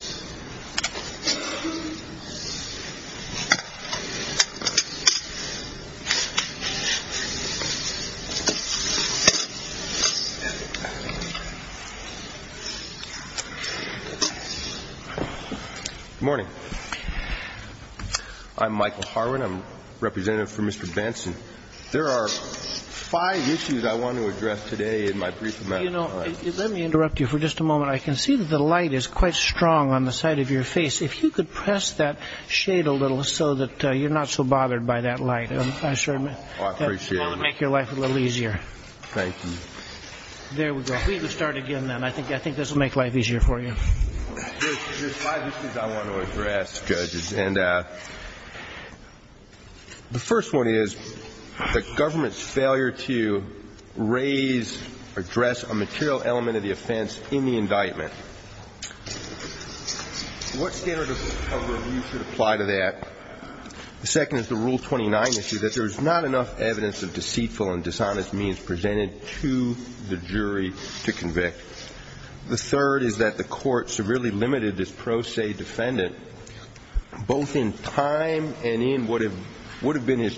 Good morning. I'm Michael Harwin. I'm representative for Mr. Benson. There are five issues I want to address today in my brief amount of time. You know, let me interrupt you for just a moment. I can see that the light is quite strong on the side of your face. If you could press that shade a little so that you're not so bothered by that light, I sure would make your life a little easier. Thank you. There we go. We can start again then. I think I think this will make life easier for you. There's five issues I want to address, judges. And the first one is the government's failure to raise, address a material element of the offense in the indictment. What standard of review should apply to that? The second is the Rule 29 issue, that there is not enough evidence of deceitful and dishonest means presented to the jury to convict. The third is that the court severely limited this pro se defendant, both in time and in what would The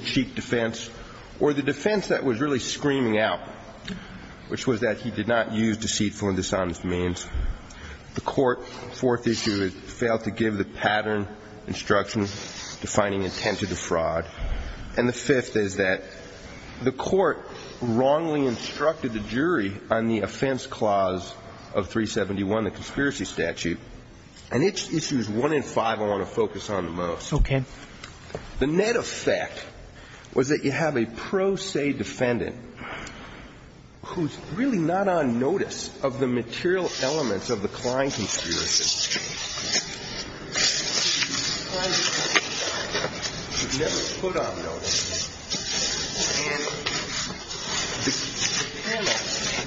defense that was really screaming out, which was that he did not use deceitful and dishonest means. The court, fourth issue, has failed to give the pattern instruction defining intent to defraud. And the fifth is that the court wrongly instructed the jury on the offense clause of 371, the conspiracy statute. And it's issues one and five I want to focus on the most. Okay. The net effect was that you have a pro se defendant who's really not on notice of the material elements of the Klein conspiracy. Never put on notice.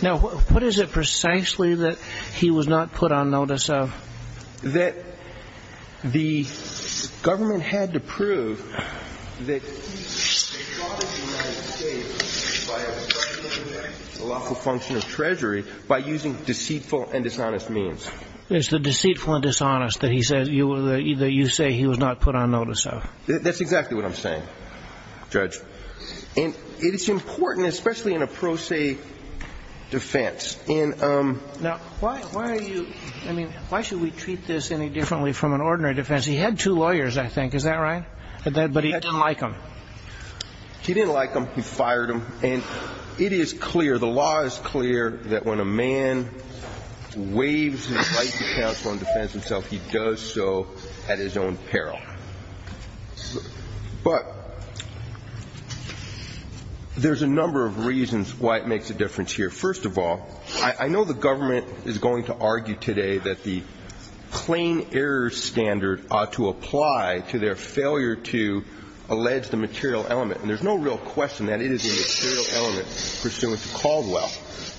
Now, what is it precisely that he was not put on notice of? That the government had to prove that a lawful function of treasury by using deceitful and dishonest means. It's the deceitful and dishonest that he said you were either you say he was not put on notice of. That's exactly what I'm saying, Judge. And it's important, especially in a pro se defense. And now, why are you I mean, why should we treat this any differently from an ordinary defense? He had two lawyers, I think. Is that right? But he didn't like him. He didn't like him. He fired him. And it is clear the law is clear that when a man waves to counsel and defends himself, he does so at his own peril. But there's a number of reasons why it makes a difference here. First of all, I know the government is going to argue today that the Klein error standard ought to apply to their failure to allege the material element. And there's no real question that it is a material element pursuant to Caldwell.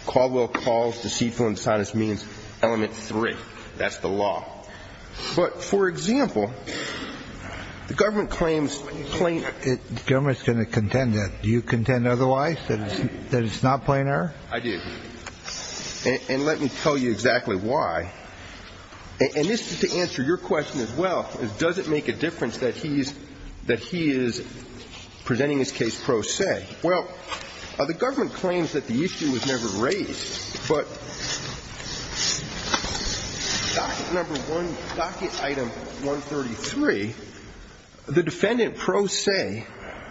Caldwell calls deceitful and dishonest means element three. That's the law. But for example, the government claims plain. The government's going to contend that. Do you contend otherwise that it's not plain error? I do. And let me tell you exactly why. And this is to answer your question as well. Does it make a difference that he's presenting his case pro se? Well, the government claims that the issue was never raised. But docket number one, docket item 133, the defendant pro se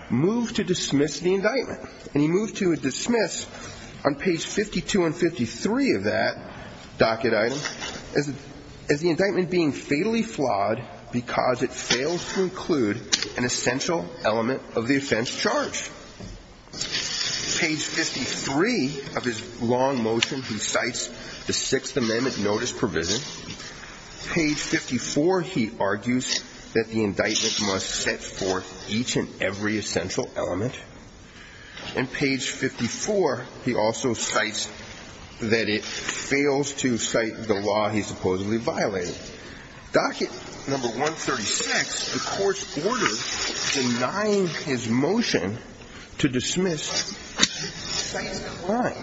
moved to dismiss the indictment. And he moved to dismiss on page 52 and 53 of that docket item as the indictment being fatally flawed because it failed to include an essential element of the offense charge. Page 53 of his long motion, he cites the Sixth Amendment notice provision. Page 54, he argues that the indictment must set forth each and every essential element. And page 54, he also cites that it fails to cite the law he supposedly violated. Docket number 136, the court's order denying his motion to dismiss cites Klein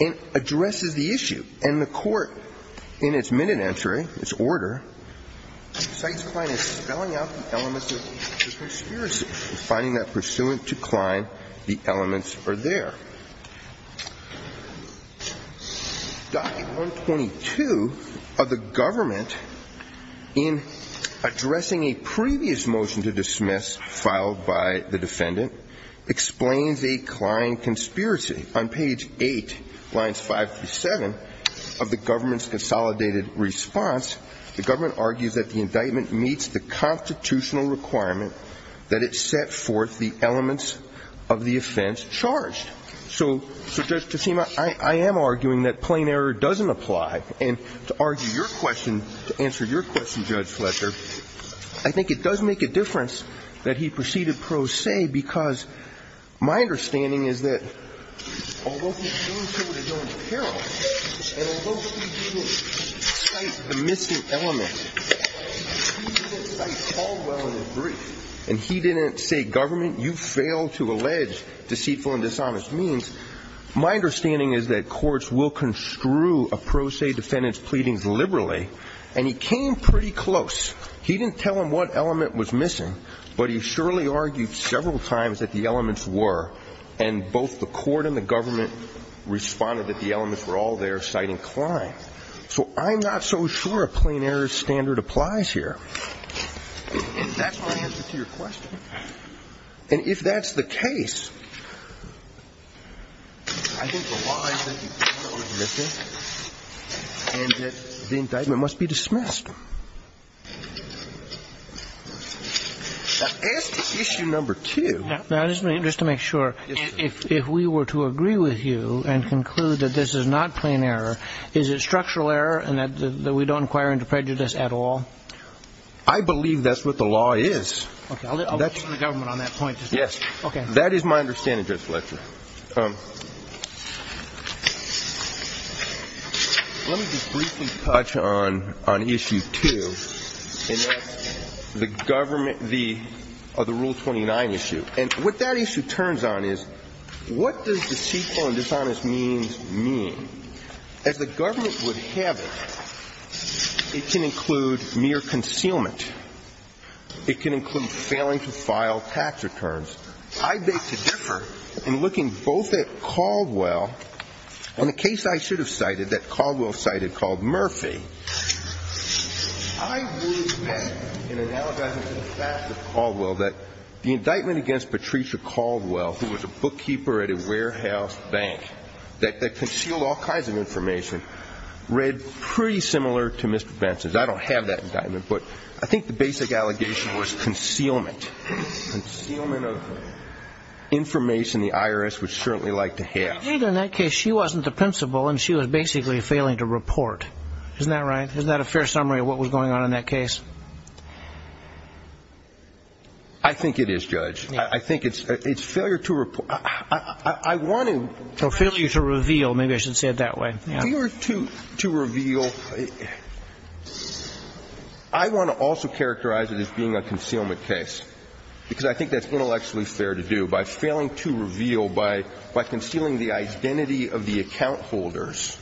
and addresses the issue. And the court in its minute entry, its order, cites Klein as spelling out the conspiracy, finding that pursuant to Klein, the elements are there. Docket 122 of the government in addressing a previous motion to dismiss filed by the defendant explains a Klein conspiracy. On page 8, lines 5 through 7 of the government's consolidated response, the government argues that the indictment meets the constitutional requirement that it set forth the elements of the offense charged. So, Judge Tacima, I am arguing that plain error doesn't apply. And to argue your question, to answer your question, Judge Fletcher, I think it does make a difference that he proceeded pro se because my understanding is that although he's doing so in his own peril, and although he didn't cite the missing element, he didn't cite Caldwell in his brief, and he didn't say government, you failed to allege deceitful and dishonest means, my understanding is that courts will construe a pro se defendant's pleadings liberally, and he came pretty close. He didn't tell him what element was missing, but he surely argued several times that the elements were, and both the court and the government responded that the elements were all there, citing Klein. So I'm not so sure a plain error standard applies here. And that's my answer to your question. And if that's the case, I think the line that you found was missing, and that the indictment must be dismissed. Now, as to issue number 2... I believe that's what the law is. Yes. That is my understanding, Judge Fletcher. Let me just briefly touch on issue 2, and that's the rule 29 issue. And what that issue means to me, as the government would have it, it can include mere concealment. It can include failing to file tax returns. I beg to differ in looking both at Caldwell, and the case I should have cited that Caldwell cited called Murphy. I would bet, in analogizing to the facts of Caldwell, that the indictment against Patricia Caldwell, who was a bookkeeper at a warehouse bank that concealed all kinds of information, read pretty similar to Mr. Benson's. I don't have that indictment, but I think the basic allegation was concealment. Concealment of information the IRS would certainly like to have. In that case, she wasn't the principal, and she was basically failing to report. Isn't that right? Isn't that a fair summary of what was going on in that case? I think it is, Judge. I think it's failure to report. I want to Failure to reveal. Maybe I should say it that way. Failure to reveal. I want to also characterize it as being a concealment case, because I think that's intellectually fair to do. By failing to reveal, by concealing the identity of the account holders,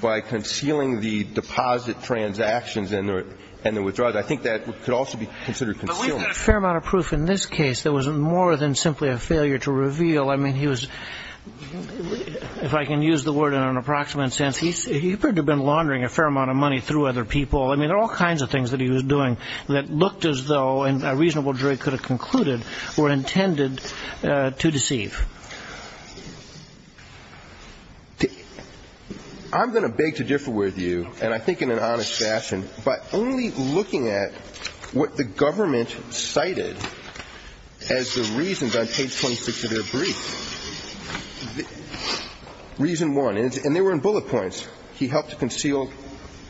by concealing the deposit transactions and the withdrawals I think that could also be considered concealment. But we've got a fair amount of proof in this case that was more than simply a failure to reveal. I mean, he was, if I can use the word in an approximate sense, he could have been laundering a fair amount of money through other people. I mean, there are all kinds of things that he was doing that looked as though a reasonable jury could have concluded were intended to deceive. I'm going to beg to differ with you, and I think in an honest fashion, but only looking at what the government cited as the reasons on page 26 of their brief. Reason one. And they were in bullet points. He helped to conceal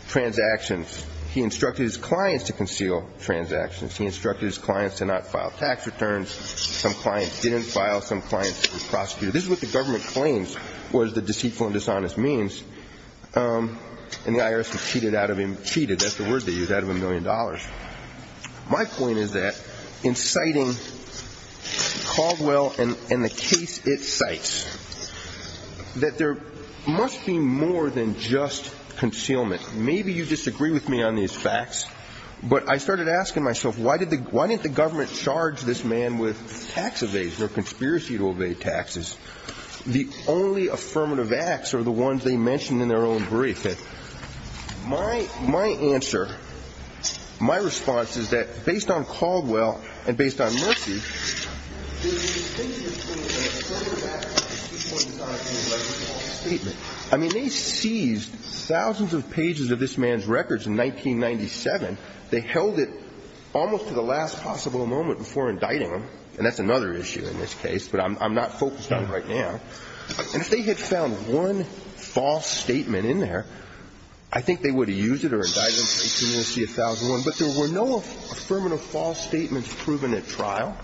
transactions. He instructed his clients to conceal transactions. He instructed his clients to not file tax returns. Some clients didn't file. Some clients were prosecuted. This is what the government claims was the deceitful and dishonest means. And the IRS had cheated out of him. Cheated, that's the word they used, out of a million dollars. My point is that in citing Caldwell and the case it cites, that there must be more than just concealment. Maybe you disagree with me on these facts, but I started asking myself, why didn't the government charge this man with tax evasion or conspiracy to evade taxes? The only affirmative acts are the ones they mentioned in their own brief. My answer, my response is that based on Caldwell and based on Murphy, there's a distinction between an affirmative act and a deceitful and dishonest statement. I mean, they seized thousands of pages of this man's records in 1997. They held it almost to the last possible moment before indicting him. And that's another issue in this case, but I'm not focused on it right now. And if they had found one false statement in there, I think they would have used it or indicted him. But there were no affirmative false statements proven at trial.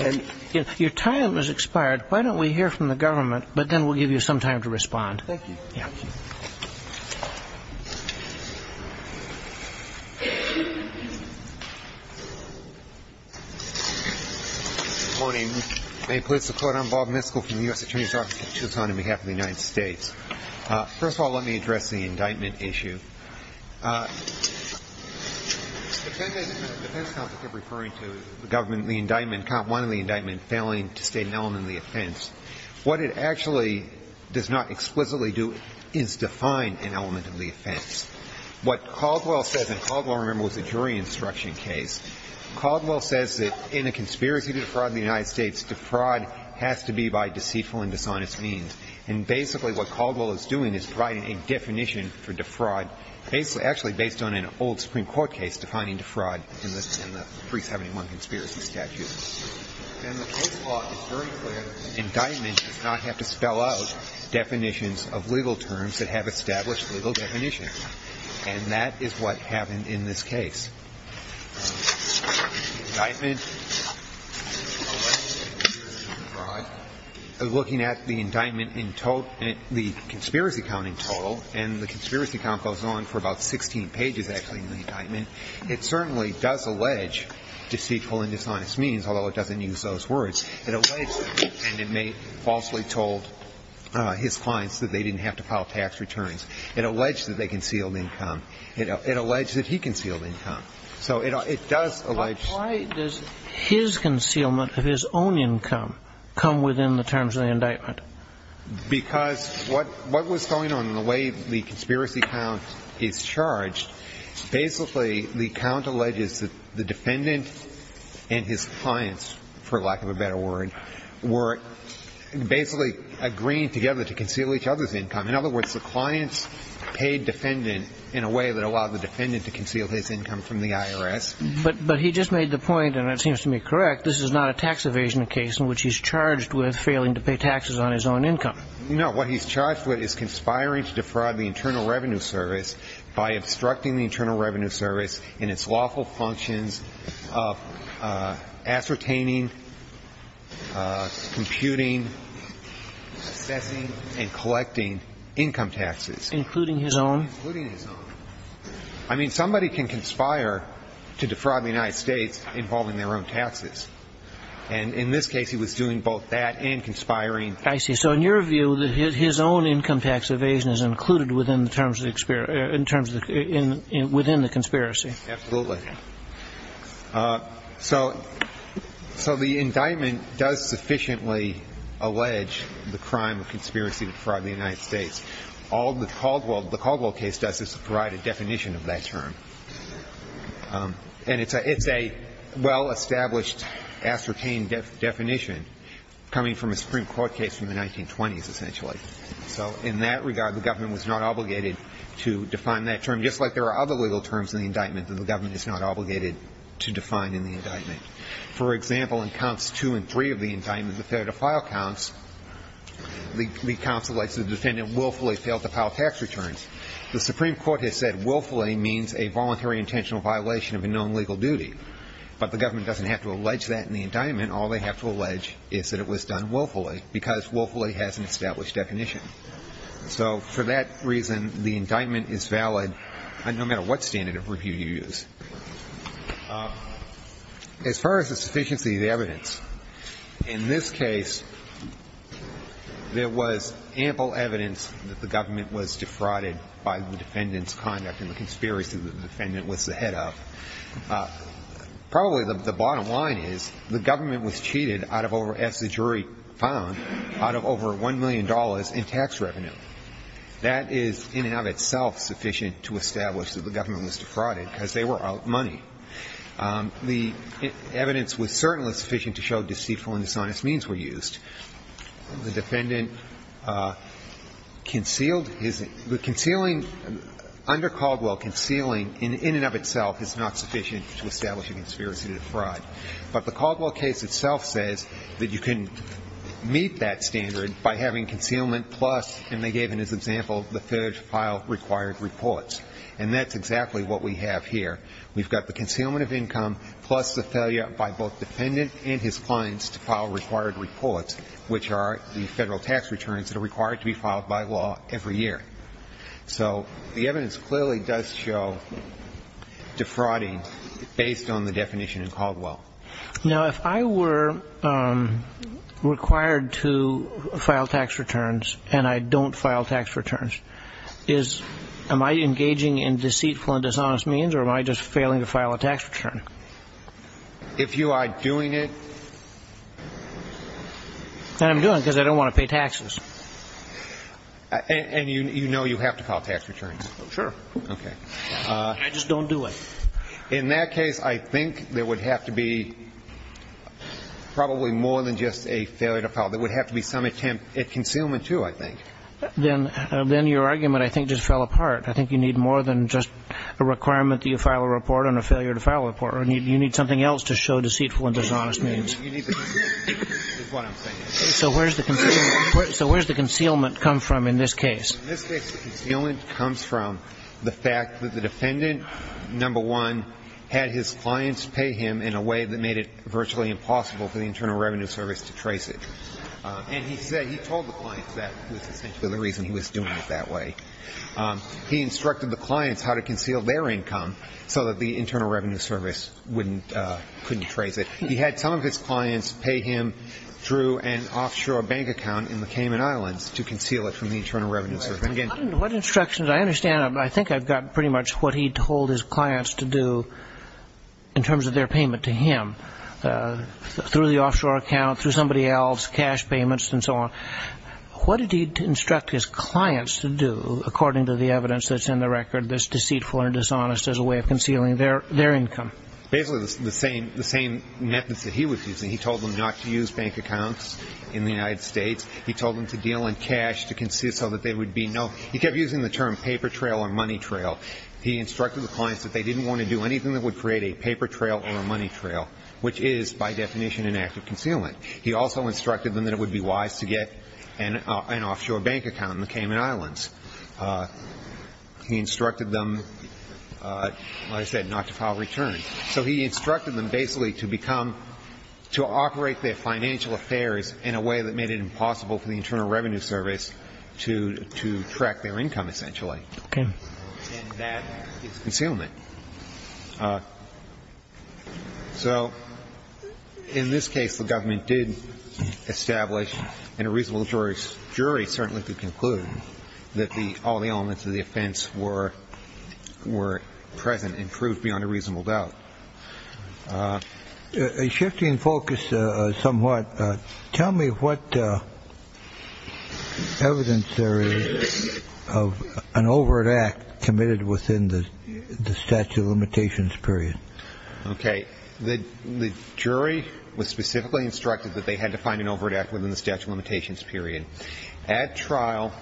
And if your time has expired, why don't we hear from the government, but then we'll give you some time to respond. Thank you. Good morning. May it please the Court, I'm Bob Miskell from the U.S. Attorney's Office in Tucson on behalf of the United States. First of all, let me address the indictment issue. The defense counsel kept referring to the government, the indictment, count one of the indictment failing to state an element of the offense. What it actually does not explicitly do is define an element of the offense. What Caldwell says, and Caldwell, remember, was a jury instruction case. Caldwell says that in a conspiracy to defraud in the United States, defraud has to be by deceitful and dishonest means. And basically what Caldwell is doing is providing a definition for defraud, actually based on an old Supreme Court case defining defraud in the 371 conspiracy statute. And the case law is very clear that an indictment does not have to spell out definitions of legal terms that have established legal definition. And that is what happened in this case. The indictment, looking at the indictment in total, the conspiracy count in total, and the conspiracy count goes on for about 16 pages, actually, in the indictment. It certainly does allege deceitful and dishonest means, although it doesn't use those words. It alleges, and it falsely told his clients that they didn't have to file tax returns. It alleged that they concealed income. It alleged that he concealed income. So it does allege... But why does his concealment of his own income come within the terms of the indictment? Because what was going on in the way the conspiracy count is charged, basically, the count alleges that the defendant and his clients, for lack of a better word, were basically agreeing together to conceal each other's income. In other words, the clients paid defendant in a way that allowed the defendant to conceal his income from the IRS. But he just made the point, and it seems to me correct, this is not a tax evasion case in which he's charged with failing to pay taxes on his own income. No. What he's charged with is conspiring to defraud the Internal Revenue Service by obstructing the Internal Revenue Service in its lawful functions of ascertaining, computing, assessing, and collecting income taxes. Including his own? Including his own. I mean, somebody can conspire to defraud the United States involving their own taxes. And in this case, he was doing both that and conspiring. I see. So in your view, his own income tax evasion is included within the terms of the conspiracy? Absolutely. So the indictment does sufficiently allege the crime of conspiracy to defraud the United States. All the Caldwell case does is provide a definition of that term. And it's a well-established, ascertained definition coming from a Supreme Court case from the 1920s, essentially. So in that regard, the government was not obligated to define that term, just like there are other legal terms in the indictment that the government is not obligated to define in the indictment. For example, in counts two and three of the indictment, the failure to file counts, the counsel alleges the defendant willfully failed to file tax returns. The Supreme Court has said willfully means a voluntary intentional violation of a known legal duty. But the government doesn't have to allege that in the indictment. All they have to allege is that it was done willfully, because willfully has an established definition. So for that reason, the indictment is valid no matter what standard of review you use. As far as the sufficiency of evidence, in this case, there was ample evidence that the government was defrauded by the defendant's conduct and the conspiracy that the defendant was the head of. Probably the bottom line is the government was cheated, as the jury found, out of over $1 million in tax revenue. That is in and of itself sufficient to establish that the government was defrauded, because they were out money. The evidence was certainly sufficient to show deceitful and dishonest means were used. The defendant concealed his – the concealing – under Caldwell, concealing in and of itself is not sufficient to establish a conspiracy to defraud. But the Caldwell case itself says that you can meet that standard by having concealment plus – and they gave in this example the failure to file required reports. And that's exactly what we have here. We've got the concealment of income plus the failure by both defendant and his clients to file required reports, which are the federal tax returns that are required to be filed by law every year. So the evidence clearly does show defrauding based on the definition in Caldwell. Now, if I were required to file tax returns and I don't file tax returns, is – am I engaging in deceitful and dishonest means or am I just failing to file a tax return? If you are doing it – Then I'm doing it because I don't want to pay taxes. And you know you have to file tax returns. Sure. Okay. I just don't do it. In that case, I think there would have to be probably more than just a failure to file. There would have to be some attempt at concealment, too, I think. Then your argument, I think, just fell apart. I think you need more than just a requirement that you file a report and a failure to file a report. You need something else to show deceitful and dishonest means. You need the concealment, is what I'm saying. So where does the concealment come from in this case? In this case, the concealment comes from the fact that the defendant, number one, had his clients pay him in a way that made it virtually impossible for the Internal Revenue Service to trace it. And he said – he told the clients that was essentially the reason he was doing it that way. He instructed the clients how to conceal their income so that the Internal Revenue Service couldn't trace it. He had some of his clients pay him through an offshore bank account in the Cayman Islands to conceal it from the Internal Revenue Service. What instructions? I understand. I think I've got pretty much what he told his clients to do in terms of their payment to him through the offshore account, through somebody else, cash payments and so on. What did he instruct his clients to do, according to the evidence that's in the record, that's deceitful and dishonest as a way of concealing their income? Basically the same methods that he was using. He told them not to use bank accounts in the United States. He told them to deal in cash to conceal so that there would be no – he kept using the term paper trail or money trail. He instructed the clients that they didn't want to do anything that would create a paper trail or a money trail, which is, by definition, an act of concealment. He also instructed them that it would be wise to get an offshore bank account in the Cayman Islands. He instructed them, like I said, not to file returns. So he instructed them basically to become – to operate their financial affairs in a way that made it impossible for the Internal Revenue Service to track their income, essentially. Okay. And that is concealment. So in this case, the government did establish – and a reasonable jury certainly could conclude – that all the elements of the offense were present and proved beyond a reasonable doubt. Shifting focus somewhat, tell me what evidence there is of an overt act committed within the statute. Within the statute of limitations period. Okay. The jury was specifically instructed that they had to find an overt act within the statute of limitations period. At trial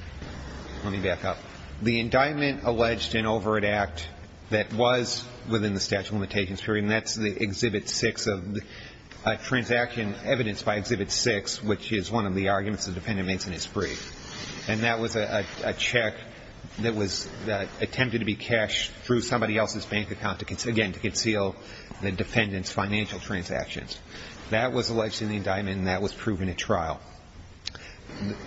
– let me back up. The indictment alleged an overt act that was within the statute of limitations period, and that's the Exhibit 6 of – a transaction evidenced by Exhibit 6, which is one of the arguments the defendant makes in his brief. And that was a check that was – attempted to be cashed through somebody else's bank account, again, to conceal the defendant's financial transactions. That was alleged in the indictment, and that was proven at trial.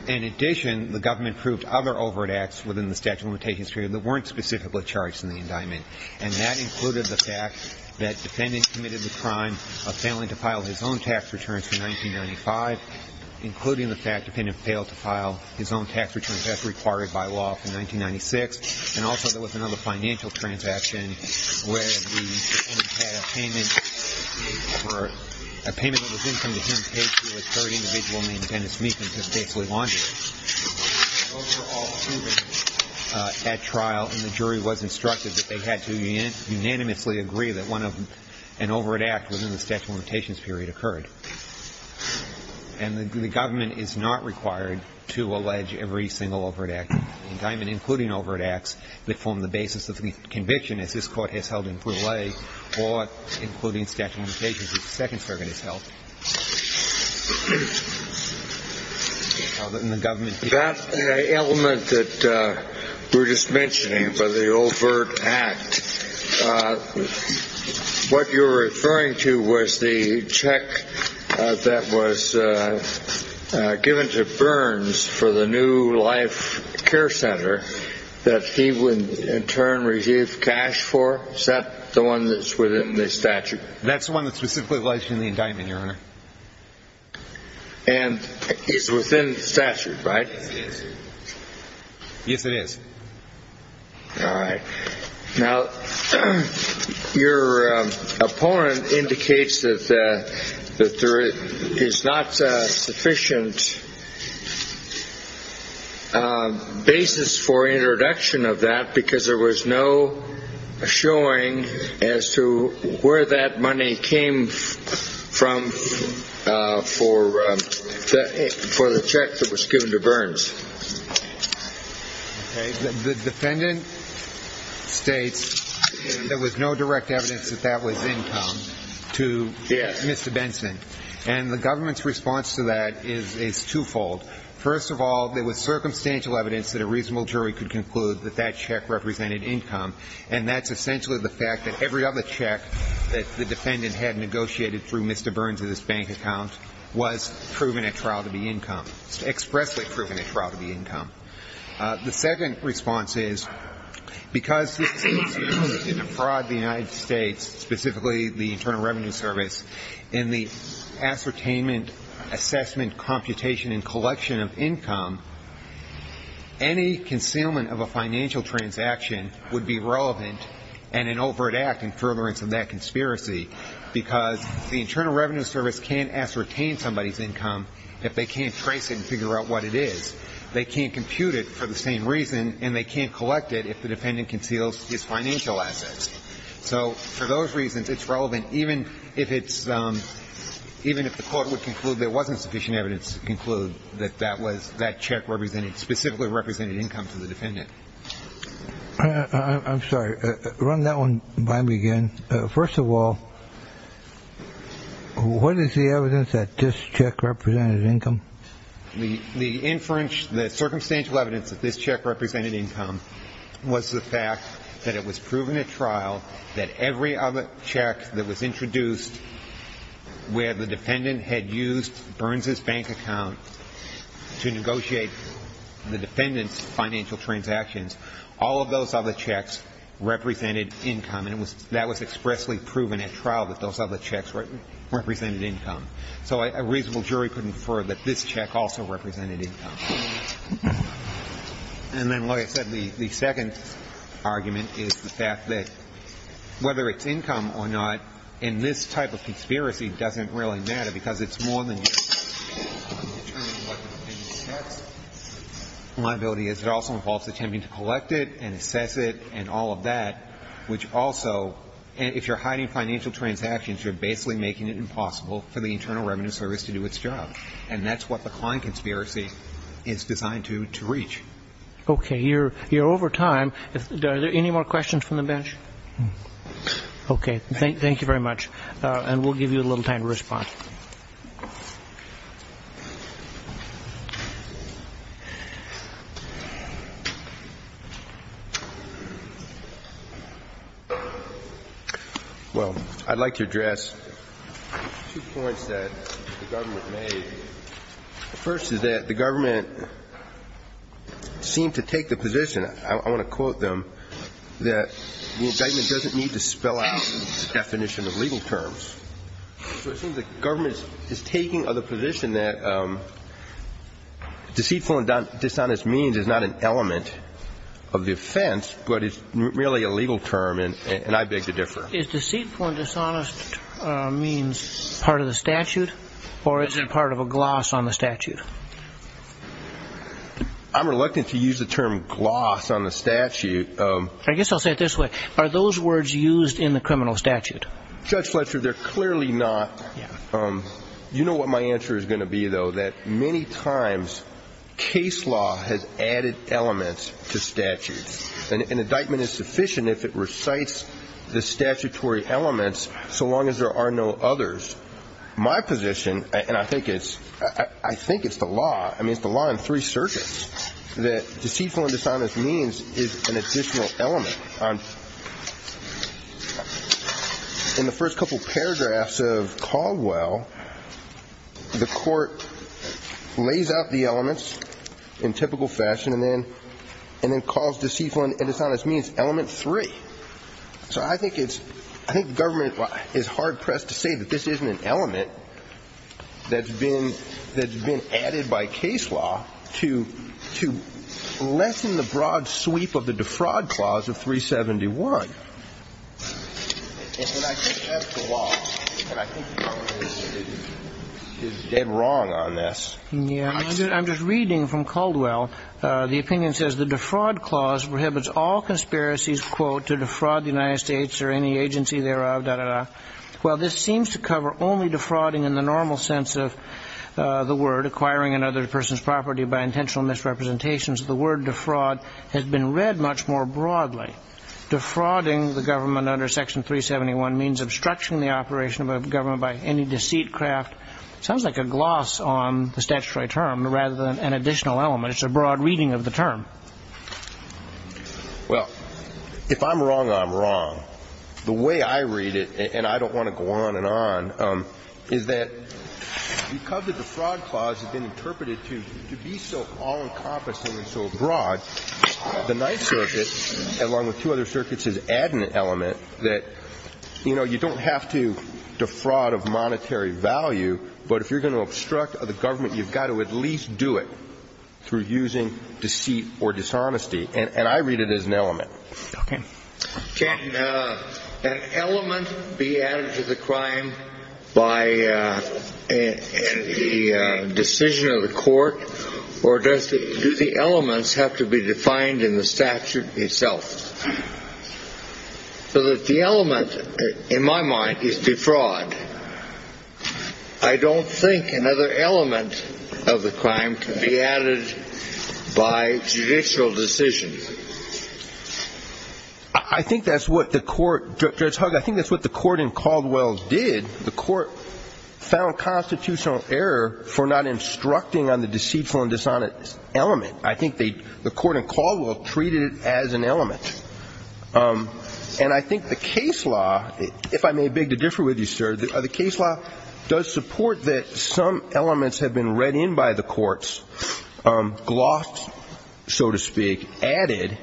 In addition, the government proved other overt acts within the statute of limitations period that weren't specifically charged in the indictment. And that included the fact that the defendant committed the crime of failing to file his own tax returns for 1995, including the fact the defendant failed to file his own tax returns as required by law for 1996, and also there was another financial transaction where the defendant had a payment for – a payment of his income to him paid through a third individual named Dennis Meekin who had basically laundered it. Overall proven at trial, and the jury was instructed that they had to unanimously agree that one of – an overt act within the statute of limitations period occurred. And the government is not required to allege every single overt act in the indictment, including overt acts that form the basis of the conviction, as this Court has held in Poole A, or including statute of limitations, which the Second Circuit has held. And the government – That element that we're just mentioning, the overt act, what you're referring to was the check that was given to Burns for the new life care center that he would in turn receive cash for? Is that the one that's within the statute? That's the one that's specifically alleged in the indictment, Your Honor. And it's within the statute, right? Yes, it is. All right. Now, your opponent indicates that there is not a sufficient basis for introduction of that because there was no showing as to where that money came from for the check that was given to Burns. The defendant states that there was no direct evidence that that was income to Mr. Benson, and the government's response to that is twofold. First of all, there was circumstantial evidence that a reasonable jury could conclude that that check represented income, and that's essentially the fact that every other check that the defendant had negotiated through Mr. Burns' bank account was proven at trial to be income, expressly proven at trial to be income. The second response is because this case used in a fraud to the United States, specifically the Internal Revenue Service, in the ascertainment, assessment, computation, and collection of income, any concealment of a financial transaction would be relevant and an overt act in furtherance of that conspiracy because the Internal Revenue Service can't ascertain somebody's income if they can't trace it and figure out what it is. They can't compute it for the same reason, and they can't collect it if the defendant conceals his financial assets. So for those reasons, it's relevant even if the court would conclude there wasn't sufficient evidence to conclude that that check specifically represented income to the defendant. I'm sorry. Run that one by me again. First of all, what is the evidence that this check represented income? The circumstantial evidence that this check represented income was the fact that it was proven at trial that every other check that was introduced where the defendant had used Burns' bank account to negotiate the defendant's financial transactions, all of those other checks represented income. And that was expressly proven at trial that those other checks represented income. So a reasonable jury could infer that this check also represented income. And then like I said, the second argument is the fact that whether it's income or not in this type of conspiracy doesn't really matter because it's more than just determining what the defendant's tax liability is. It also involves attempting to collect it and assess it and all of that, which also, if you're hiding financial transactions, you're basically making it impossible for the Internal Revenue Service to do its job. And that's what the Klein conspiracy is designed to reach. Okay. You're over time. Are there any more questions from the bench? Okay. Thank you very much. And we'll give you a little time to respond. Well, I'd like to address two points that the government made. First is that the government seemed to take the position, I want to quote them, that the indictment doesn't need to spell out the definition of legal terms. So it seems the government is taking of the position that deceitful and dishonest means is not an element of the effect It's a defense, but it's merely a legal term, and I beg to differ. Is deceitful and dishonest part of the statute? Or is it part of a gloss on the statute? I'm reluctant to use the term gloss on the statute. I guess I'll say it this way. Are those words used in the criminal statute? Judge Fletcher, they're clearly not. You know what my answer is going to be, though, is that many times case law has added elements to statutes. An indictment is sufficient if it recites the statutory elements so long as there are no others. My position, and I think it's the law, I mean it's the law in three circuits, that deceitful and dishonest means is an additional element. In the first couple paragraphs of Caldwell, the court lays out the elements in typical fashion, and then calls deceitful and dishonest means element three. So I think government is hard-pressed to say that this isn't an element that's been added by case law to lessen the broad sweep of the defraud clause of 371. And I think that's the law. And I think Congress is dead wrong on this. Yeah, I'm just reading from Caldwell. The opinion says the defraud clause prohibits all conspiracies, quote, to defraud the United States or any agency thereof. Well, this seems to cover only defrauding in the normal sense of the word, acquiring another person's property by intentional misrepresentations. The word defraud has been read much more broadly. Defrauding the government under Section 371 means obstructing the operation of a government by any deceitcraft. Sounds like a gloss on the statutory term rather than an additional element. It's a broad reading of the term. Well, if I'm wrong, I'm wrong. The way I read it, and I don't want to go on and on, is that because the defraud clause has been interpreted to be so all-encompassing and so broad, the Ninth Circuit, along with two other circuits, is adding an element that, you know, you don't have to defraud of monetary value, but if you're going to obstruct the government, you've got to at least do it And I read it as an element. Can an element be added to the crime by the decision of the court? Or do the elements have to be defined in the statute itself? So that the element in my mind is defraud. I don't think another element of the crime can be added by judicial decision. I think that's what the court Judge Hugg, I think that's what the court in Caldwell did the court found constitutional error for not instructing on the deceitful and dishonest element I think the court in Caldwell treated it as an element. And I think the case law, if I may beg to differ with you, sir the case law does support that some elements have been read in by the courts, glossed so to speak, added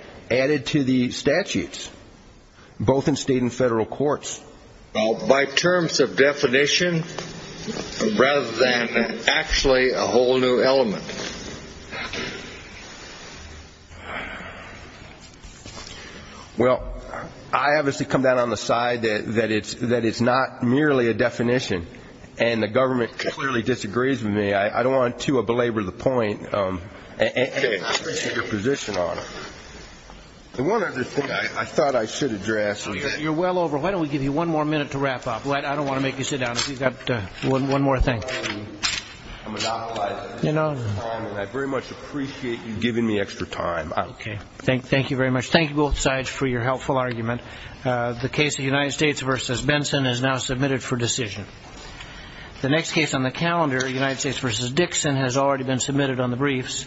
to the statutes, both in state and federal courts By terms of definition rather than actually a whole new element Well, I obviously come down on the side that it's not merely a definition and the government clearly disagrees with me I don't want to belabor the point and appreciate your position on it The one other thing I thought I should address You're well over, why don't we give you one more minute to wrap up I don't want to make you sit down I very much appreciate you giving me extra time Thank you both sides for your helpful argument The case of United States v. Benson is now submitted for decision The next case on the calendar, United States v. Dixon has already been submitted on the briefs